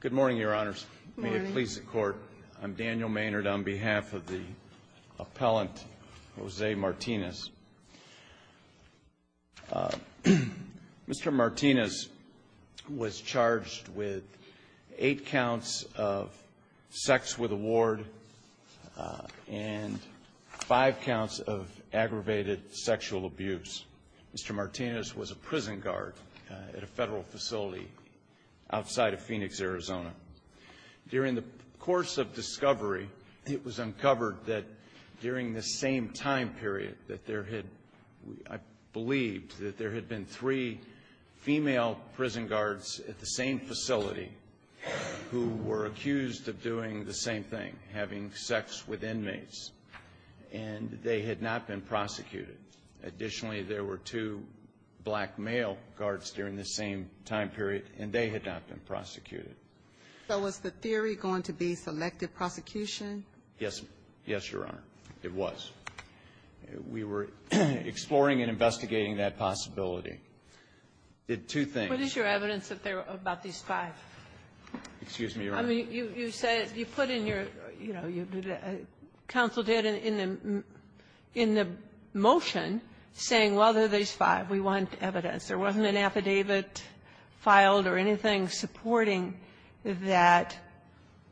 Good morning, Your Honors. May it please the Court, I'm Daniel Maynard on behalf of the appellant, Jose Martinez. Mr. Martinez was charged with 8 counts of sex with a ward and 5 counts of aggravated sexual abuse. Mr. Martinez was a prison guard at a federal facility outside of Phoenix, Arizona. During the course of discovery, it was uncovered that during this same time period that there had, I believed, that there had been three female prison guards at the same time period, and they had not been prosecuted. Additionally, there were two black male guards during this same time period, and they had not been prosecuted. So was the theory going to be selective prosecution? Yes. Yes, Your Honor. It was. We were exploring and investigating that possibility. Did two things. What is your evidence that there were about these five? Excuse me, Your Honor. I mean, you said you put in your, you know, counsel did in the motion saying, well, there are these five, we want evidence. There wasn't an affidavit filed or anything supporting that.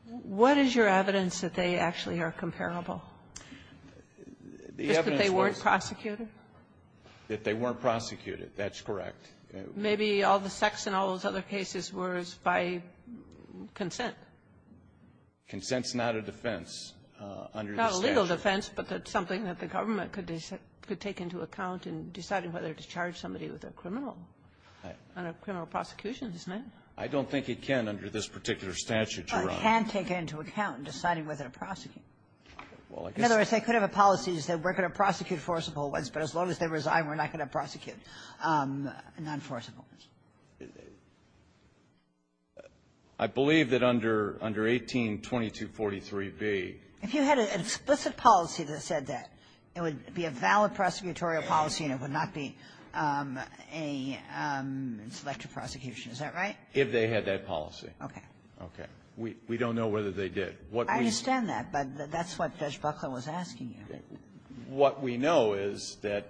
What is your evidence that they actually are comparable? Just that they weren't prosecuted? That they weren't prosecuted. That's correct. Maybe all the sex in all those other cases was by consent. Consent's not a defense under the statute. Not a legal defense, but that's something that the government could take into account in deciding whether to charge somebody with a criminal, a criminal prosecution, isn't it? I don't think it can under this particular statute, Your Honor. Well, it can take it into account in deciding whether to prosecute. Well, I guess they could have a policy to say we're going to prosecute forcible ones, but as long as they resign, we're not going to prosecute nonforcible ones. I believe that under 182243b ---- If you had an explicit policy that said that, it would be a valid prosecutorial policy and it would not be a selective prosecution. Is that right? If they had that policy. Okay. Okay. We don't know whether they did. What we ---- I understand that, but that's what Judge Buckler was asking you. What we know is that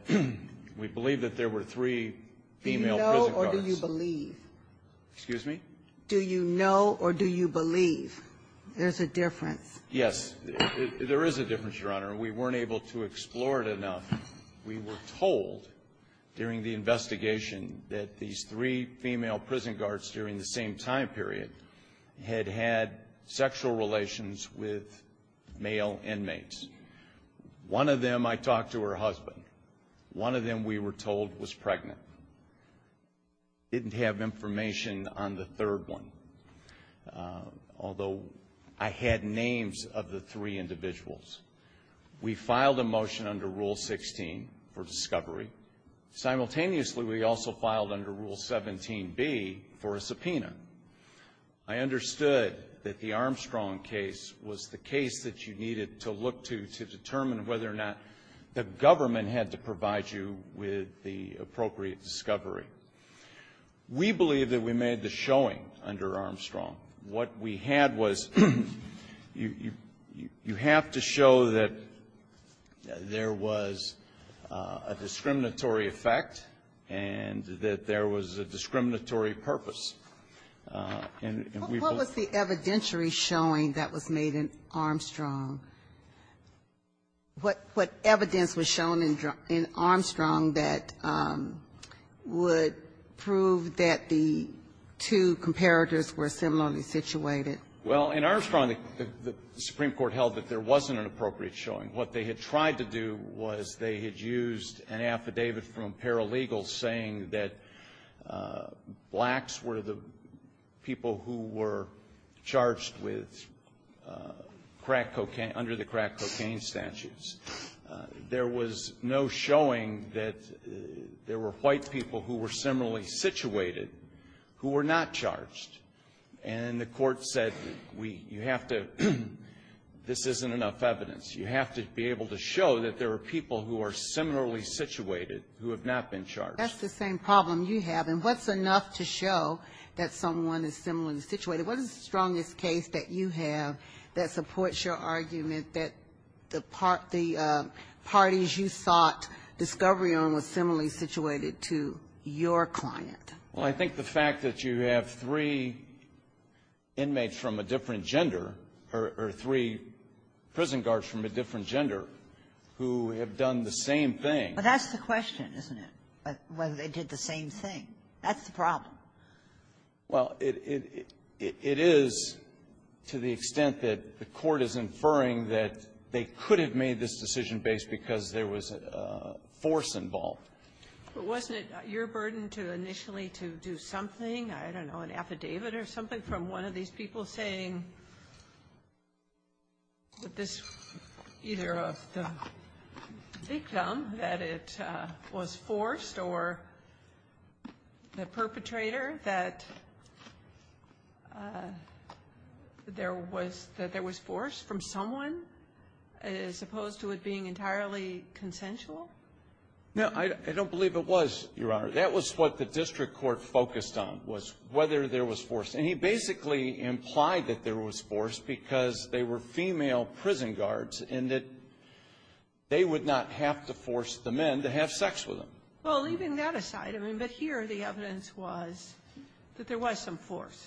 we believe that there were three female prison guards. Do you know or do you believe? Excuse me? Do you know or do you believe? There's a difference. Yes. There is a difference, Your Honor. We weren't able to explore it enough. We were told during the investigation that these three female prison guards during the same time period had had sexual relations with male inmates. One of them I talked to her husband. One of them we were told was pregnant. Didn't have information on the third one, although I had names of the three individuals. We filed a motion under Rule 16 for discovery. Simultaneously, we also filed under Rule 17b for a subpoena. I understood that the Armstrong case was the case that you needed to look to to determine whether or not the government had to provide you with the appropriate discovery. We believe that we made the showing under Armstrong. What we had was you have to show that there was a discriminatory effect and that there was a discriminatory purpose. And we both ---- What was the evidentiary showing that was made in Armstrong? What evidence was shown in Armstrong that would prove that the two comparators were similarly situated? Well, in Armstrong, the Supreme Court held that there wasn't an appropriate showing. What they had tried to do was they had used an affidavit from paralegals saying that blacks were the people who were charged with crack cocaine under the crack cocaine statutes. There was no showing that there were white people who were similarly situated who were not charged. And the court said we ---- you have to ---- this isn't enough evidence. You have to be able to show that there are people who are similarly situated who have not been charged. That's the same problem you have. And what's enough to show that someone is similarly situated? What is the strongest case that you have that supports your argument that the parties you sought discovery on were similarly situated to your client? Well, I think the fact that you have three inmates from a different gender or three prison guards from a different gender who have done the same thing ---- But that's the question, isn't it, whether they did the same thing? That's the problem. Well, it is to the extent that the court is inferring that they could have made this decision based because there was a force involved. But wasn't it your burden to initially to do something, I don't know, an affidavit or something from one of these people saying that this either of the victim, that it was forced or the perpetrator, that there was force from someone as opposed to it being entirely consensual? No. I don't believe it was, Your Honor. That was what the district court focused on was whether there was force. And he basically implied that there was force because they were female prison guards and that they would not have to force the men to have sex with them. Well, leaving that aside, I mean, but here the evidence was that there was some force.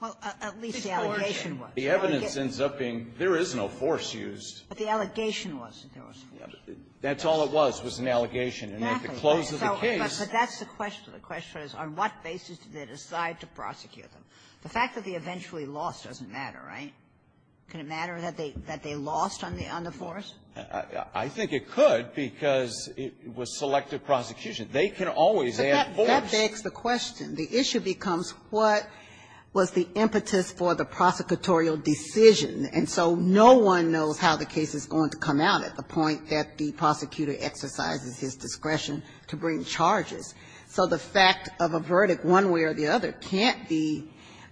Well, at least the allegation was. The evidence ends up being there is no force used. But the allegation was that there was force. That's all it was, was an allegation. And at the close of the case ---- But that's the question. The question is, on what basis did they decide to prosecute them? The fact that they eventually lost doesn't matter, right? Can it matter that they lost on the force? I think it could, because it was selective prosecution. They can always add force. But that begs the question. The issue becomes what was the impetus for the prosecutorial decision. And so no one knows how the case is going to come out at the point that the prosecutor exercises his discretion to bring charges. So the fact of a verdict one way or the other can't be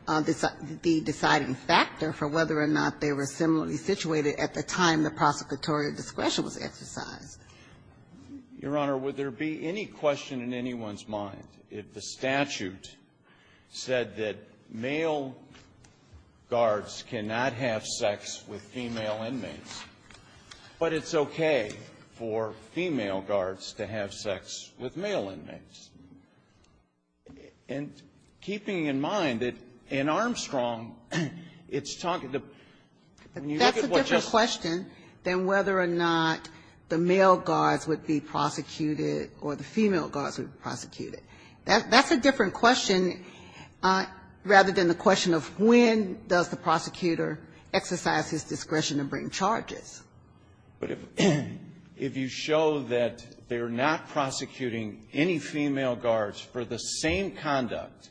the deciding factor for whether or not they were similarly situated at the time the prosecutorial discretion was exercised. Your Honor, would there be any question in anyone's mind if the statute said that male guards cannot have sex with female inmates, but it's okay for female guards to have sex with male inmates? And keeping in mind that in Armstrong, it's talking to ---- That's a different question than whether or not the male guards would be prosecuted or the female guards would be prosecuted. That's a different question rather than the question of when does the prosecutor exercise his discretion to bring charges. But if you show that they're not prosecuting any female guards for the same conduct,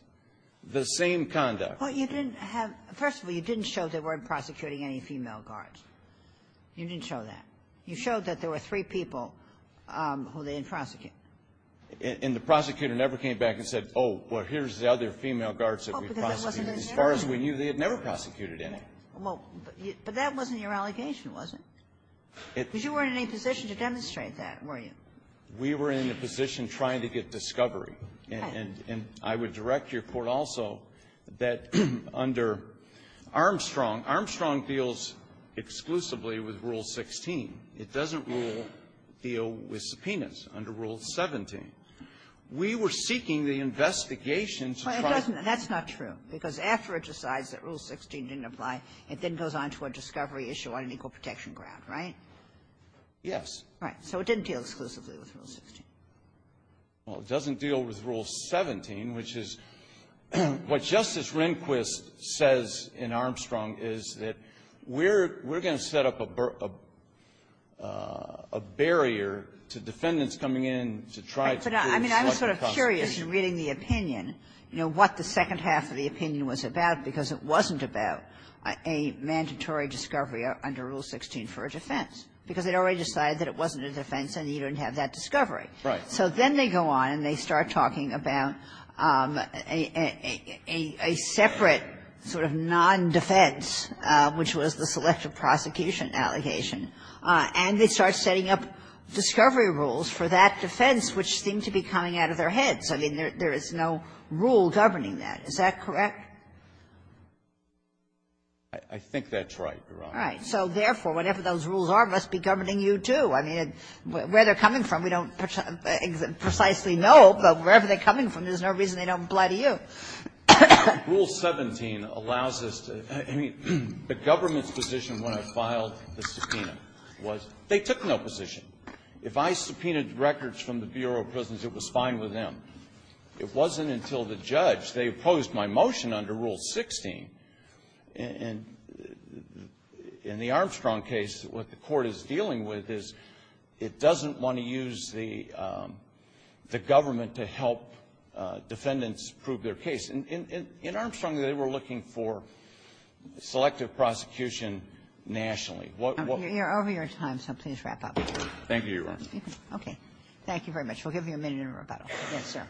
the same conduct ---- Well, you didn't have ---- First of all, you didn't show they weren't prosecuting any female guards. You didn't show that. You showed that there were three people who they didn't prosecute. And the prosecutor never came back and said, oh, well, here's the other female guards that we prosecuted. As far as we knew, they had never prosecuted any. Well, but that wasn't your allegation, was it? Because you weren't in any position to demonstrate that, were you? We were in a position trying to get discovery. And I would direct your Court also that under Armstrong, Armstrong deals exclusively with Rule 16. It doesn't deal with subpoenas under Rule 17. We were seeking the investigation to try to ---- It then goes on to a discovery issue on an equal protection ground, right? Yes. Right. So it didn't deal exclusively with Rule 16. Well, it doesn't deal with Rule 17, which is what Justice Rehnquist says in Armstrong is that we're going to set up a barrier to defendants coming in to try to prove selection of constitutes. I mean, I'm sort of curious, in reading the opinion, you know, what the second half of the opinion was about, because it wasn't about a mandatory discovery under Rule 16 for a defense, because they'd already decided that it wasn't a defense and you didn't have that discovery. Right. So then they go on and they start talking about a separate sort of non-defense, which was the selective prosecution allegation. And they start setting up discovery rules for that defense, which seemed to be coming out of their heads. I mean, there is no rule governing that. Is that correct? I think that's right, Your Honor. All right. So therefore, whatever those rules are, must be governing you, too. I mean, where they're coming from, we don't precisely know, but wherever they're coming from, there's no reason they don't apply to you. Rule 17 allows us to – I mean, the government's position when I filed the subpoena was they took no position. If I subpoenaed records from the Bureau of Prisons, it was fine with them. It wasn't until the judge, they opposed my motion under Rule 16. And in the Armstrong case, what the Court is dealing with is it doesn't want to use the government to help defendants prove their case. In Armstrong, they were looking for selective prosecution nationally. What – We're over your time, so please wrap up. Thank you, Your Honor. Thank you very much. We'll give you a minute in rebuttal. Yes, sir.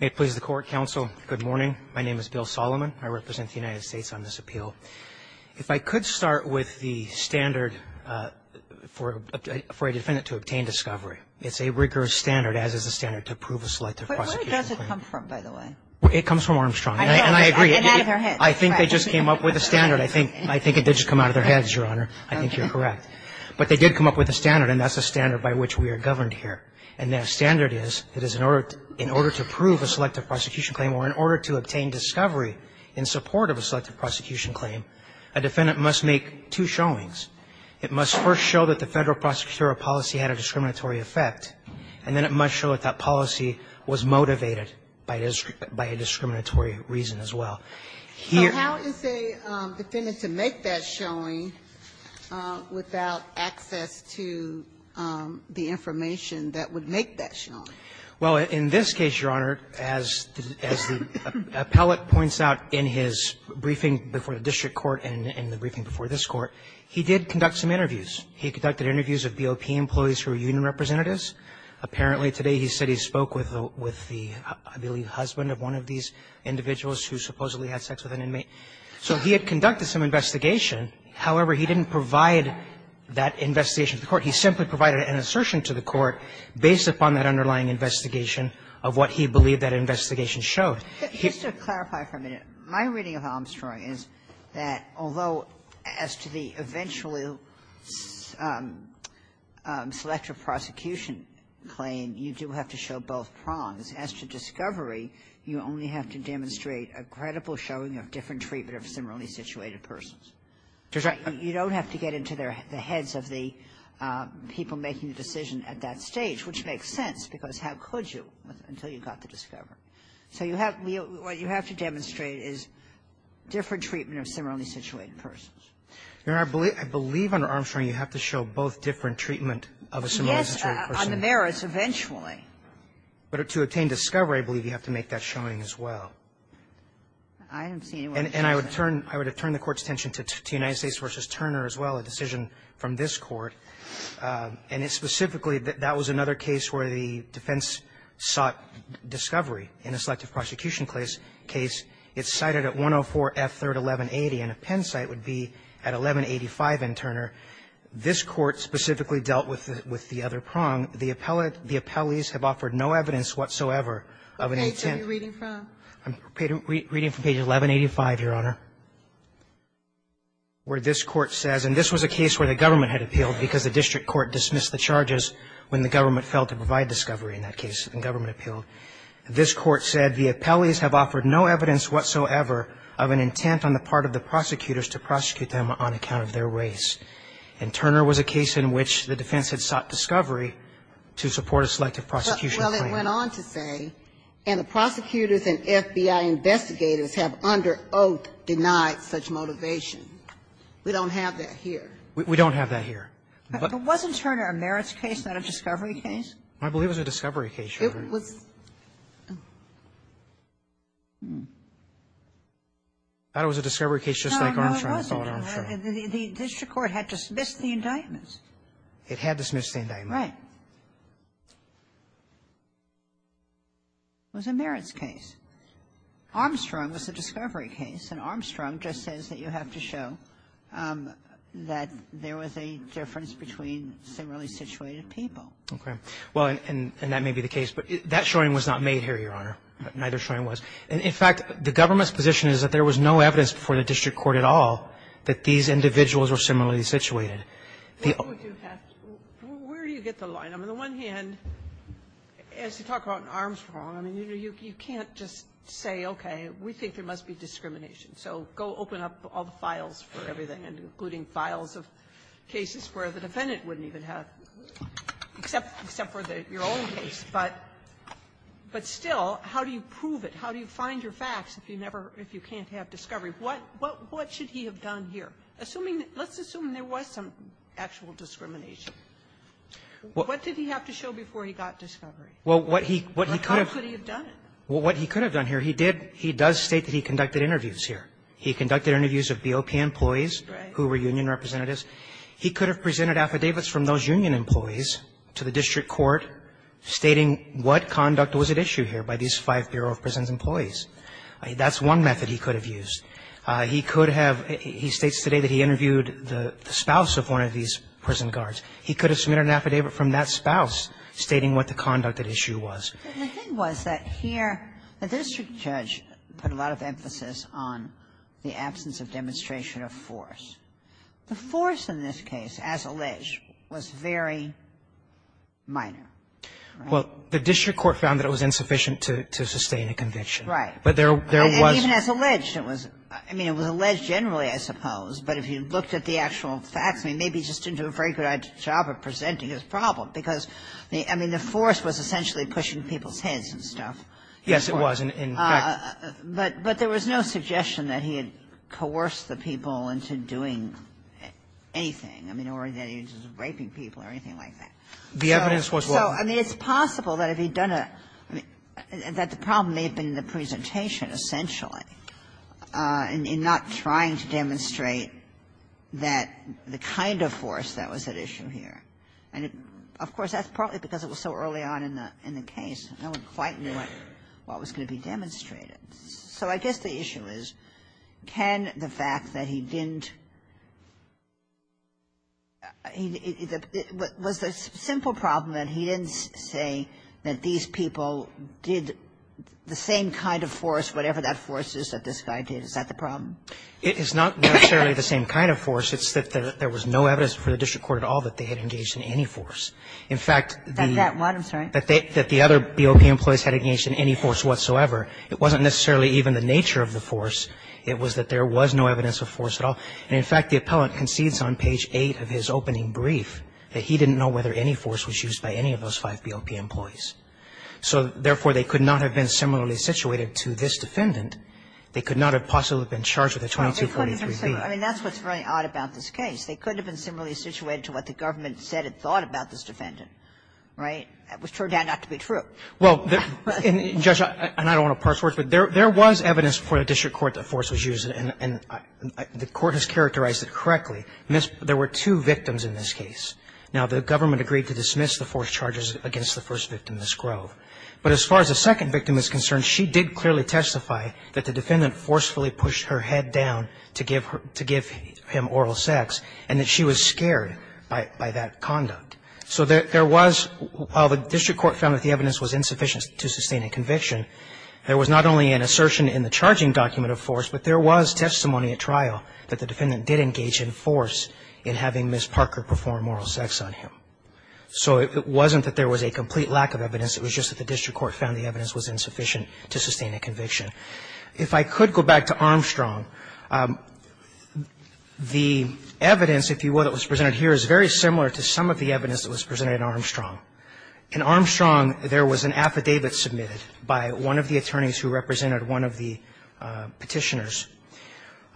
May it please the Court, counsel. Good morning. My name is Bill Solomon. I represent the United States on this appeal. If I could start with the standard for a defendant to obtain discovery. It's a rigorous standard, as is the standard to prove a selective prosecution. Where does it come from, by the way? It comes from Armstrong. And I agree, I think they just came up with a standard. I think it did just come out of their heads, Your Honor. I think you're correct. But they did come up with a standard, and that's a standard by which we are governed here. And that standard is, it is in order to prove a selective prosecution claim or in order to obtain discovery in support of a selective prosecution claim, a defendant must make two showings. It must first show that the Federal prosecutorial policy had a discriminatory effect, and then it must show that that policy was motivated by a discriminatory reason as well. So how is a defendant to make that showing without access to the information that would make that showing? Well, in this case, Your Honor, as the appellate points out in his briefing before the district court and in the briefing before this Court, he did conduct some interviews. He conducted interviews of BOP employees who were union representatives. Apparently, today he said he spoke with the, I believe, husband of one of these individuals who supposedly had sex with an inmate. So he had conducted some investigation. However, he didn't provide that investigation to the court. He simply provided an assertion to the court based upon that underlying investigation of what he believed that investigation showed. He used to clarify for a minute. My reading of Armstrong is that although as to the eventually selective prosecution claim, you do have to show both prongs. As to discovery, you only have to demonstrate a credible showing of different treatment of similarly situated persons. You don't have to get into the heads of the people making the decision at that stage, which makes sense, because how could you until you got the discovery? So you have to demonstrate different treatment of similarly situated persons. Your Honor, I believe under Armstrong you have to show both different treatment of a similarly situated person. On the merits, eventually. But to obtain discovery, I believe you have to make that showing as well. I don't see any way to do that. And I would turn the Court's attention to United States v. Turner as well, a decision from this Court, and it specifically, that was another case where the defense sought discovery in a selective prosecution case. It's cited at 104 F. 3rd, 1180, and a Penn site would be at 1185 in Turner. This Court specifically dealt with the other prong. The appellees have offered no evidence whatsoever of an intent. I'm reading from page 1185, Your Honor, where this Court says, and this was a case where the government had appealed because the district court dismissed the charges when the government failed to provide discovery in that case, and the government appealed. This Court said, The appellees have offered no evidence whatsoever of an intent on the part of the prosecutors to prosecute them on account of their race. And Turner was a case in which the defense had sought discovery to support a selective prosecution claim. Well, it went on to say, And the prosecutors and FBI investigators have under oath denied such motivation. We don't have that here. We don't have that here. But wasn't Turner a merits case, not a discovery case? I believe it was a discovery case, Your Honor. It was. I thought it was a discovery case just like Armstrong. No, it wasn't. The district court had dismissed the indictment. It had dismissed the indictment. Right. It was a merits case. Armstrong was a discovery case, and Armstrong just says that you have to show that there was a difference between similarly situated people. Okay. Well, and that may be the case, but that showing was not made here, Your Honor. Neither showing was. In fact, the government's position is that there was no evidence before the district court at all that these individuals were similarly situated. Where do you get the line? I mean, on the one hand, as you talk about Armstrong, I mean, you can't just say, okay, we think there must be discrimination. So go open up all the files for everything, including files of cases where the defendant wouldn't even have, except for your own case. But still, how do you prove it? How do you find your facts if you can't have discovery? What should he have done here? Assuming that — let's assume there was some actual discrimination. What did he have to show before he got discovery? Well, what he could have — How could he have done it? Well, what he could have done here, he did — he does state that he conducted interviews here. He conducted interviews of BOP employees who were union representatives. He could have presented affidavits from those union employees to the district court stating what conduct was at issue here by these five Bureau of Prisons employees. That's one method he could have used. He could have — he states today that he interviewed the spouse of one of these prison guards. He could have submitted an affidavit from that spouse stating what the conduct at issue was. But the thing was that here, the district judge put a lot of emphasis on the absence of demonstration of force. The force in this case, as alleged, was very minor, right? Well, the district court found that it was insufficient to sustain a conviction. Right. But there was — Even as alleged, it was — I mean, it was alleged generally, I suppose. But if you looked at the actual facts, I mean, maybe he just didn't do a very good job of presenting his problem, because, I mean, the force was essentially pushing people's heads and stuff. Yes, it was, in fact. But there was no suggestion that he had coerced the people into doing anything. I mean, or that he was raping people or anything like that. The evidence was what? So, I mean, it's possible that if he'd done a — that the problem may have been in the presentation, essentially, and in not trying to demonstrate that — the kind of force that was at issue here. And, of course, that's partly because it was so early on in the — in the case. No one quite knew what was going to be demonstrated. So I guess the issue is, can the fact that he didn't — was the simple problem that he didn't say that these people did the same kind of force, whatever that force is that this guy did, is that the problem? It is not necessarily the same kind of force. It's that there was no evidence before the district court at all that they had engaged in any force. In fact, the — That one, I'm sorry. That the other BOP employees had engaged in any force whatsoever, it wasn't necessarily even the nature of the force. It was that there was no evidence of force at all. And, in fact, the appellant concedes on page 8 of his opening brief that he didn't know whether any force was used by any of those five BOP employees. So, therefore, they could not have been similarly situated to this defendant. They could not have possibly been charged with a 2243B. I mean, that's what's very odd about this case. They could have been similarly situated to what the government said it thought about this defendant, right? It was turned out not to be true. Well, Judge, and I don't want to parse words, but there was evidence before the district court that force was used, and the court has characterized it correctly. There were two victims in this case. Now, the government agreed to dismiss the force charges against the first victim in this grove. But as far as the second victim is concerned, she did clearly testify that the defendant forcefully pushed her head down to give her to give him oral sex, and that she was scared by that conduct. So there was, while the district court found that the evidence was insufficient to sustain a conviction, there was not only an assertion in the charging document of force, but there was testimony at trial that the defendant did engage in force in having Ms. Parker perform oral sex on him. So it wasn't that there was a complete lack of evidence. It was just that the district court found the evidence was insufficient to sustain a conviction. If I could go back to Armstrong, the evidence, if you will, that was presented here is very similar to some of the evidence that was presented at Armstrong. In Armstrong, there was an affidavit submitted by one of the attorneys who represented one of the petitioners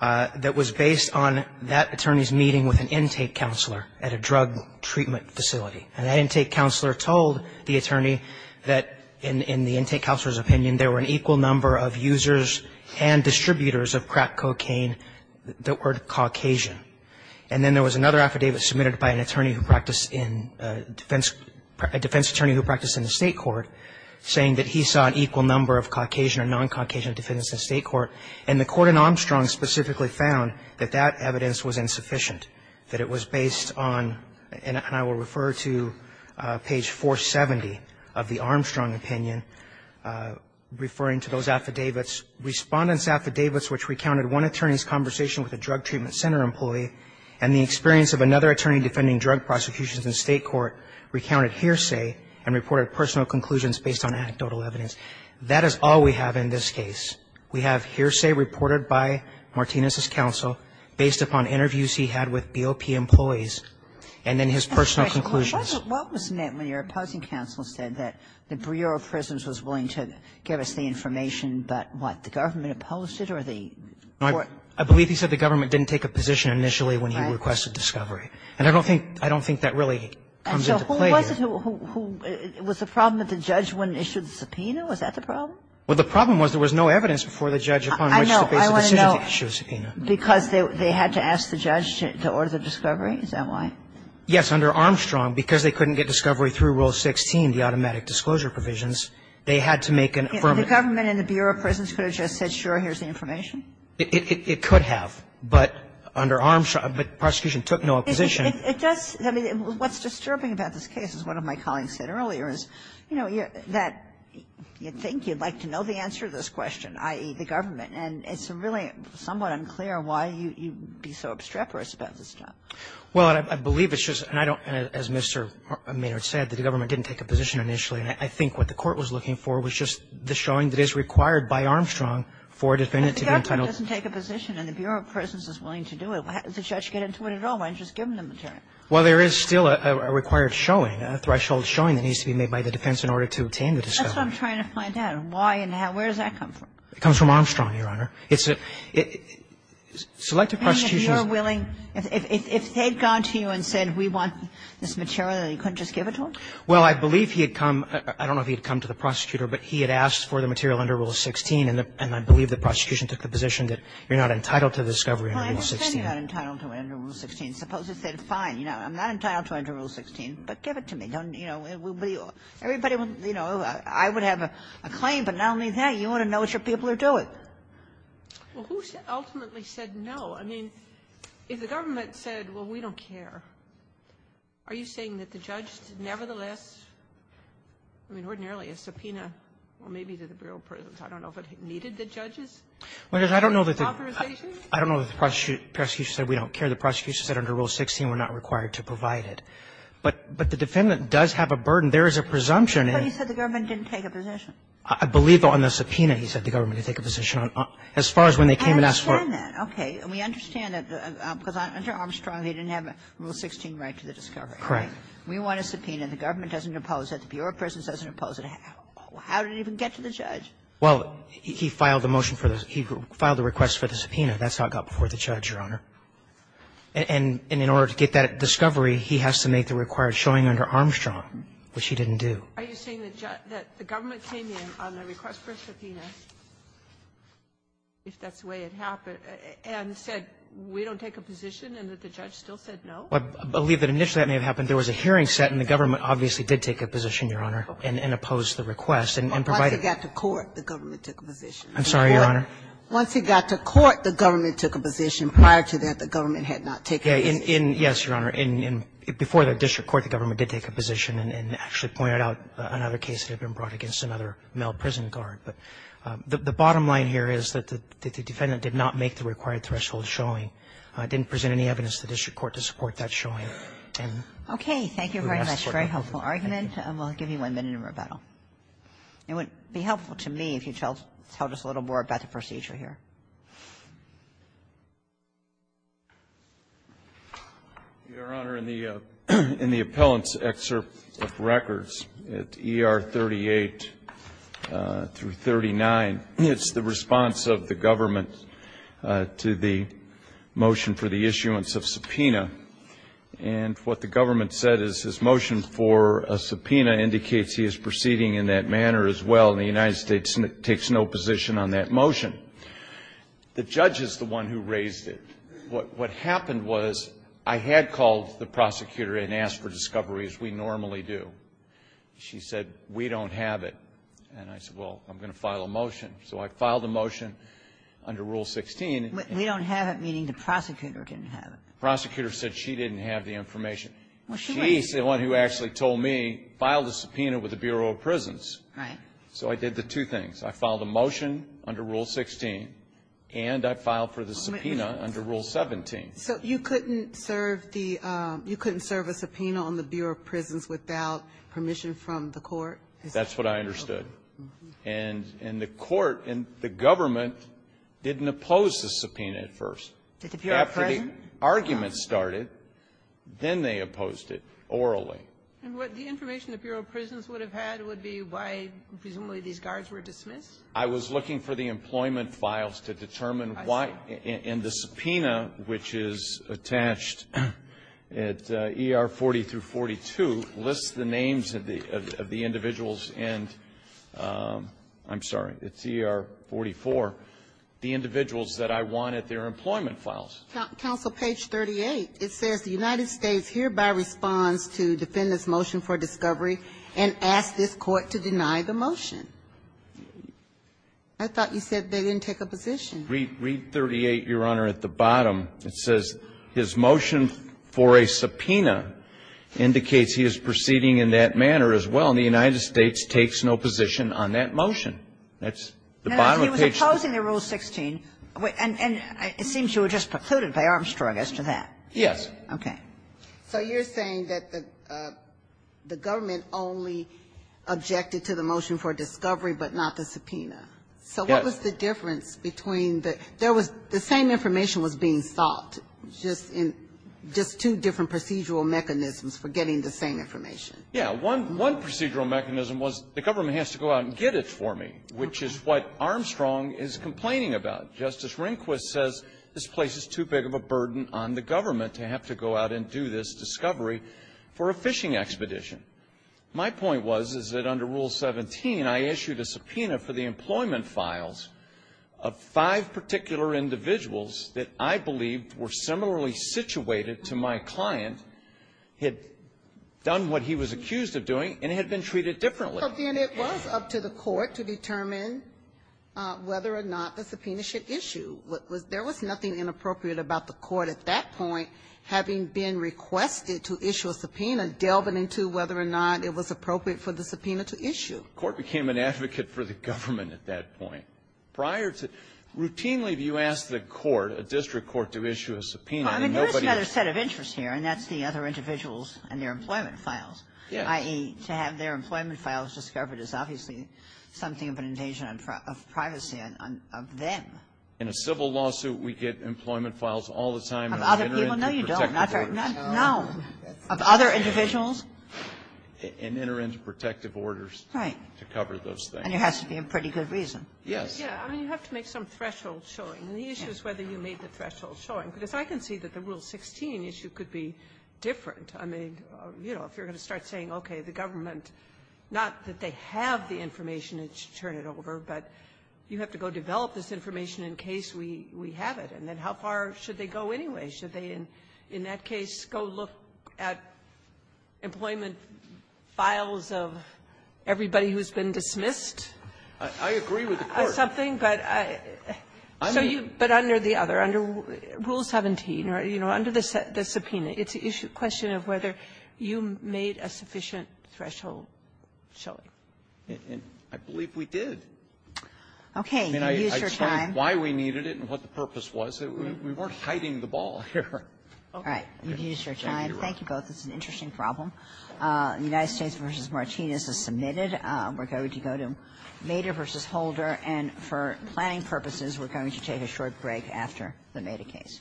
that was based on that attorney's meeting with an intake counselor at a drug treatment facility. And that intake counselor told the attorney that in the intake counselor's opinion, there were an equal number of users and distributors of crack cocaine that were Caucasian. And then there was another affidavit submitted by a defense attorney who practiced in the state court saying that he saw an equal number of Caucasian or non-Caucasian defendants in state court. And the court in Armstrong specifically found that that evidence was insufficient, that it was based on, and I will refer to page 470 of the Armstrong opinion, referring to those affidavits, respondent's affidavits which recounted one attorney's conversation with a drug treatment center employee and the experience of another attorney defending drug prosecutions in state court recounted hearsay and reported personal conclusions based on anecdotal evidence. That is all we have in this case. We have hearsay reported by Martinez's counsel based upon interviews he had with BOP employees and then his personal conclusions. What was meant when your opposing counsel said that the Bureau of Prisons was willing to give us the information, but what, the government opposed it or the court? I believe he said the government didn't take a position initially when he requested discovery. Right. And I don't think that really comes into play here. Was the problem that the judge wouldn't issue the subpoena? Was that the problem? Well, the problem was there was no evidence before the judge upon which to base a decision to issue a subpoena. I want to know, because they had to ask the judge to order the discovery? Is that why? Yes. Under Armstrong, because they couldn't get discovery through Rule 16, the automatic disclosure provisions, they had to make an affirmative. The government and the Bureau of Prisons could have just said, sure, here's the information? It could have. But under Armstrong, the prosecution took no opposition. It does. I mean, what's disturbing about this case, as one of my colleagues said earlier, is, you know, that you'd think you'd like to know the answer to this question, i.e., the government. And it's really somewhat unclear why you'd be so obstreperous about this stuff. Well, I believe it's just, and I don't, as Mr. Maynard said, that the government didn't take a position initially. And I think what the court was looking for was just the showing that is required by Armstrong for a definitive entitlement. If the government doesn't take a position and the Bureau of Prisons is willing to do it, how does the judge get into it at all? Why don't you just give him the material? Well, there is still a required showing, a threshold showing that needs to be made by the defense in order to obtain the discovery. That's what I'm trying to find out. Why and how? Where does that come from? It comes from Armstrong, Your Honor. It's a – selective prosecution. I mean, if you're willing, if they'd gone to you and said we want this material and you couldn't just give it to him? Well, I believe he had come – I don't know if he had come to the prosecutor, but he had asked for the material under Rule 16. And I believe the prosecution took the position that you're not entitled to the discovery under Rule 16. Well, then you're not entitled to it under Rule 16. Suppose he said, fine, you know, I'm not entitled to it under Rule 16, but give it to me. Don't, you know, it would be – everybody would, you know, I would have a claim, but not only that, you want to know what your people are doing. Well, who ultimately said no? I mean, if the government said, well, we don't care, are you saying that the judge nevertheless – I mean, ordinarily, a subpoena, well, maybe to the Bureau of Prisons, I don't know if it needed the judge's authorization? I don't know if the prosecutor said we don't care. The prosecutor said under Rule 16 we're not required to provide it. But the defendant does have a burden. There is a presumption. But he said the government didn't take a position. I believe on the subpoena he said the government didn't take a position. As far as when they came and asked for it. I understand that. Okay. And we understand that, because under Armstrong, he didn't have a Rule 16 right to the discovery, right? Correct. We want a subpoena. The government doesn't impose it. The Bureau of Prisons doesn't impose it. How did it even get to the judge? Well, he filed a motion for the – he filed a request for the subpoena. That's how it got before the judge, Your Honor. And in order to get that discovery, he has to make the required showing under Armstrong, which he didn't do. Are you saying that the government came in on the request for a subpoena, if that's the way it happened, and said we don't take a position and that the judge still said no? I believe that initially that may have happened. There was a hearing set, and the government obviously did take a position, Your Honor, and opposed the request and provided it. Once he got to court, the government took a position. I'm sorry, Your Honor. Once he got to court, the government took a position. Prior to that, the government had not taken a position. Yes, Your Honor. Before the district court, the government did take a position and actually pointed out another case that had been brought against another male prison guard. But the bottom line here is that the defendant did not make the required threshold showing, didn't present any evidence to the district court to support that showing. Okay. Thank you very much. Very helpful argument. We'll give you one minute in rebuttal. It would be helpful to me if you tell us a little more about the procedure here. Your Honor, in the appellant's excerpt of records at ER 38 through 39, it's the response of the government to the motion for the issuance of subpoena. And what the government said is his motion for a subpoena indicates he is proceeding in that manner as well. And the United States takes no position on that motion. The judge is the one who raised it. What happened was I had called the prosecutor and asked for discovery as we normally do. She said, we don't have it. And I said, well, I'm going to file a motion. So I filed a motion under Rule 16. We don't have it, meaning the prosecutor didn't have it. The prosecutor said she didn't have the information. She's the one who actually told me, file the subpoena with the Bureau of Prisons. Right. So I did the two things. I filed a motion under Rule 16, and I filed for the subpoena under Rule 17. So you couldn't serve the you couldn't serve a subpoena on the Bureau of Prisons without permission from the court? That's what I understood. And the court and the government didn't oppose the subpoena at first. Did the Bureau of Prisons? When the argument started, then they opposed it orally. And what the information the Bureau of Prisons would have had would be why presumably these guards were dismissed? I was looking for the employment files to determine why. I saw. And the subpoena, which is attached at ER 40 through 42, lists the names of the individuals and I'm sorry, it's ER 44, the individuals that I want at their employment files. Counsel, page 38, it says the United States hereby responds to defendant's motion for discovery and asks this court to deny the motion. I thought you said they didn't take a position. Read 38, Your Honor, at the bottom. It says his motion for a subpoena indicates he is proceeding in that manner as well, and the United States takes no position on that motion. That's the bottom of page 38. He was opposing the rule 16, and it seems you were just precluded by Armstrong as to that. Yes. Okay. So you're saying that the government only objected to the motion for discovery, but not the subpoena. Yes. So what was the difference between the the same information was being sought, just two different procedural mechanisms for getting the same information? Yes. One procedural mechanism was the government has to go out and get it for me, which is what Armstrong is complaining about. Justice Rehnquist says this place is too big of a burden on the government to have to go out and do this discovery for a fishing expedition. My point was, is that under Rule 17, I issued a subpoena for the employment files of five particular individuals that I believed were similarly situated to my client, had done what he was accused of doing, and had been treated differently. Well, then it was up to the court to determine whether or not the subpoena should issue. There was nothing inappropriate about the court at that point having been requested to issue a subpoena, delving into whether or not it was appropriate for the subpoena to issue. The court became an advocate for the government at that point. Prior to that, routinely you ask the court, a district court, to issue a subpoena and nobody else. Well, I mean, there is another set of interests here, and that's the other individuals and their employment files, i.e., to have their employment files discovered is obviously something of an invasion of privacy of them. In a civil lawsuit, we get employment files all the time. Of other people? No, you don't. No. Of other individuals? And enter into protective orders to cover those things. Right. And there has to be a pretty good reason. Yes. Yes. I mean, you have to make some threshold showing. And the issue is whether you made the threshold showing, because I can see that the if you're going to start saying, okay, the government, not that they have the information, it should turn it over, but you have to go develop this information in case we have it. And then how far should they go anyway? Should they, in that case, go look at employment files of everybody who's been dismissed? I agree with the court. But under the other, under Rule 17, or, you know, under the subpoena, it's a question of whether you made a sufficient threshold showing. And I believe we did. Okay. I mean, I explained why we needed it and what the purpose was. We weren't hiding the ball here. All right. You've used your time. Thank you both. It's an interesting problem. United States v. Martinez is submitted. We're going to go to Maeder v. Holder. And for planning purposes, we're going to take a short break after the Maeder case.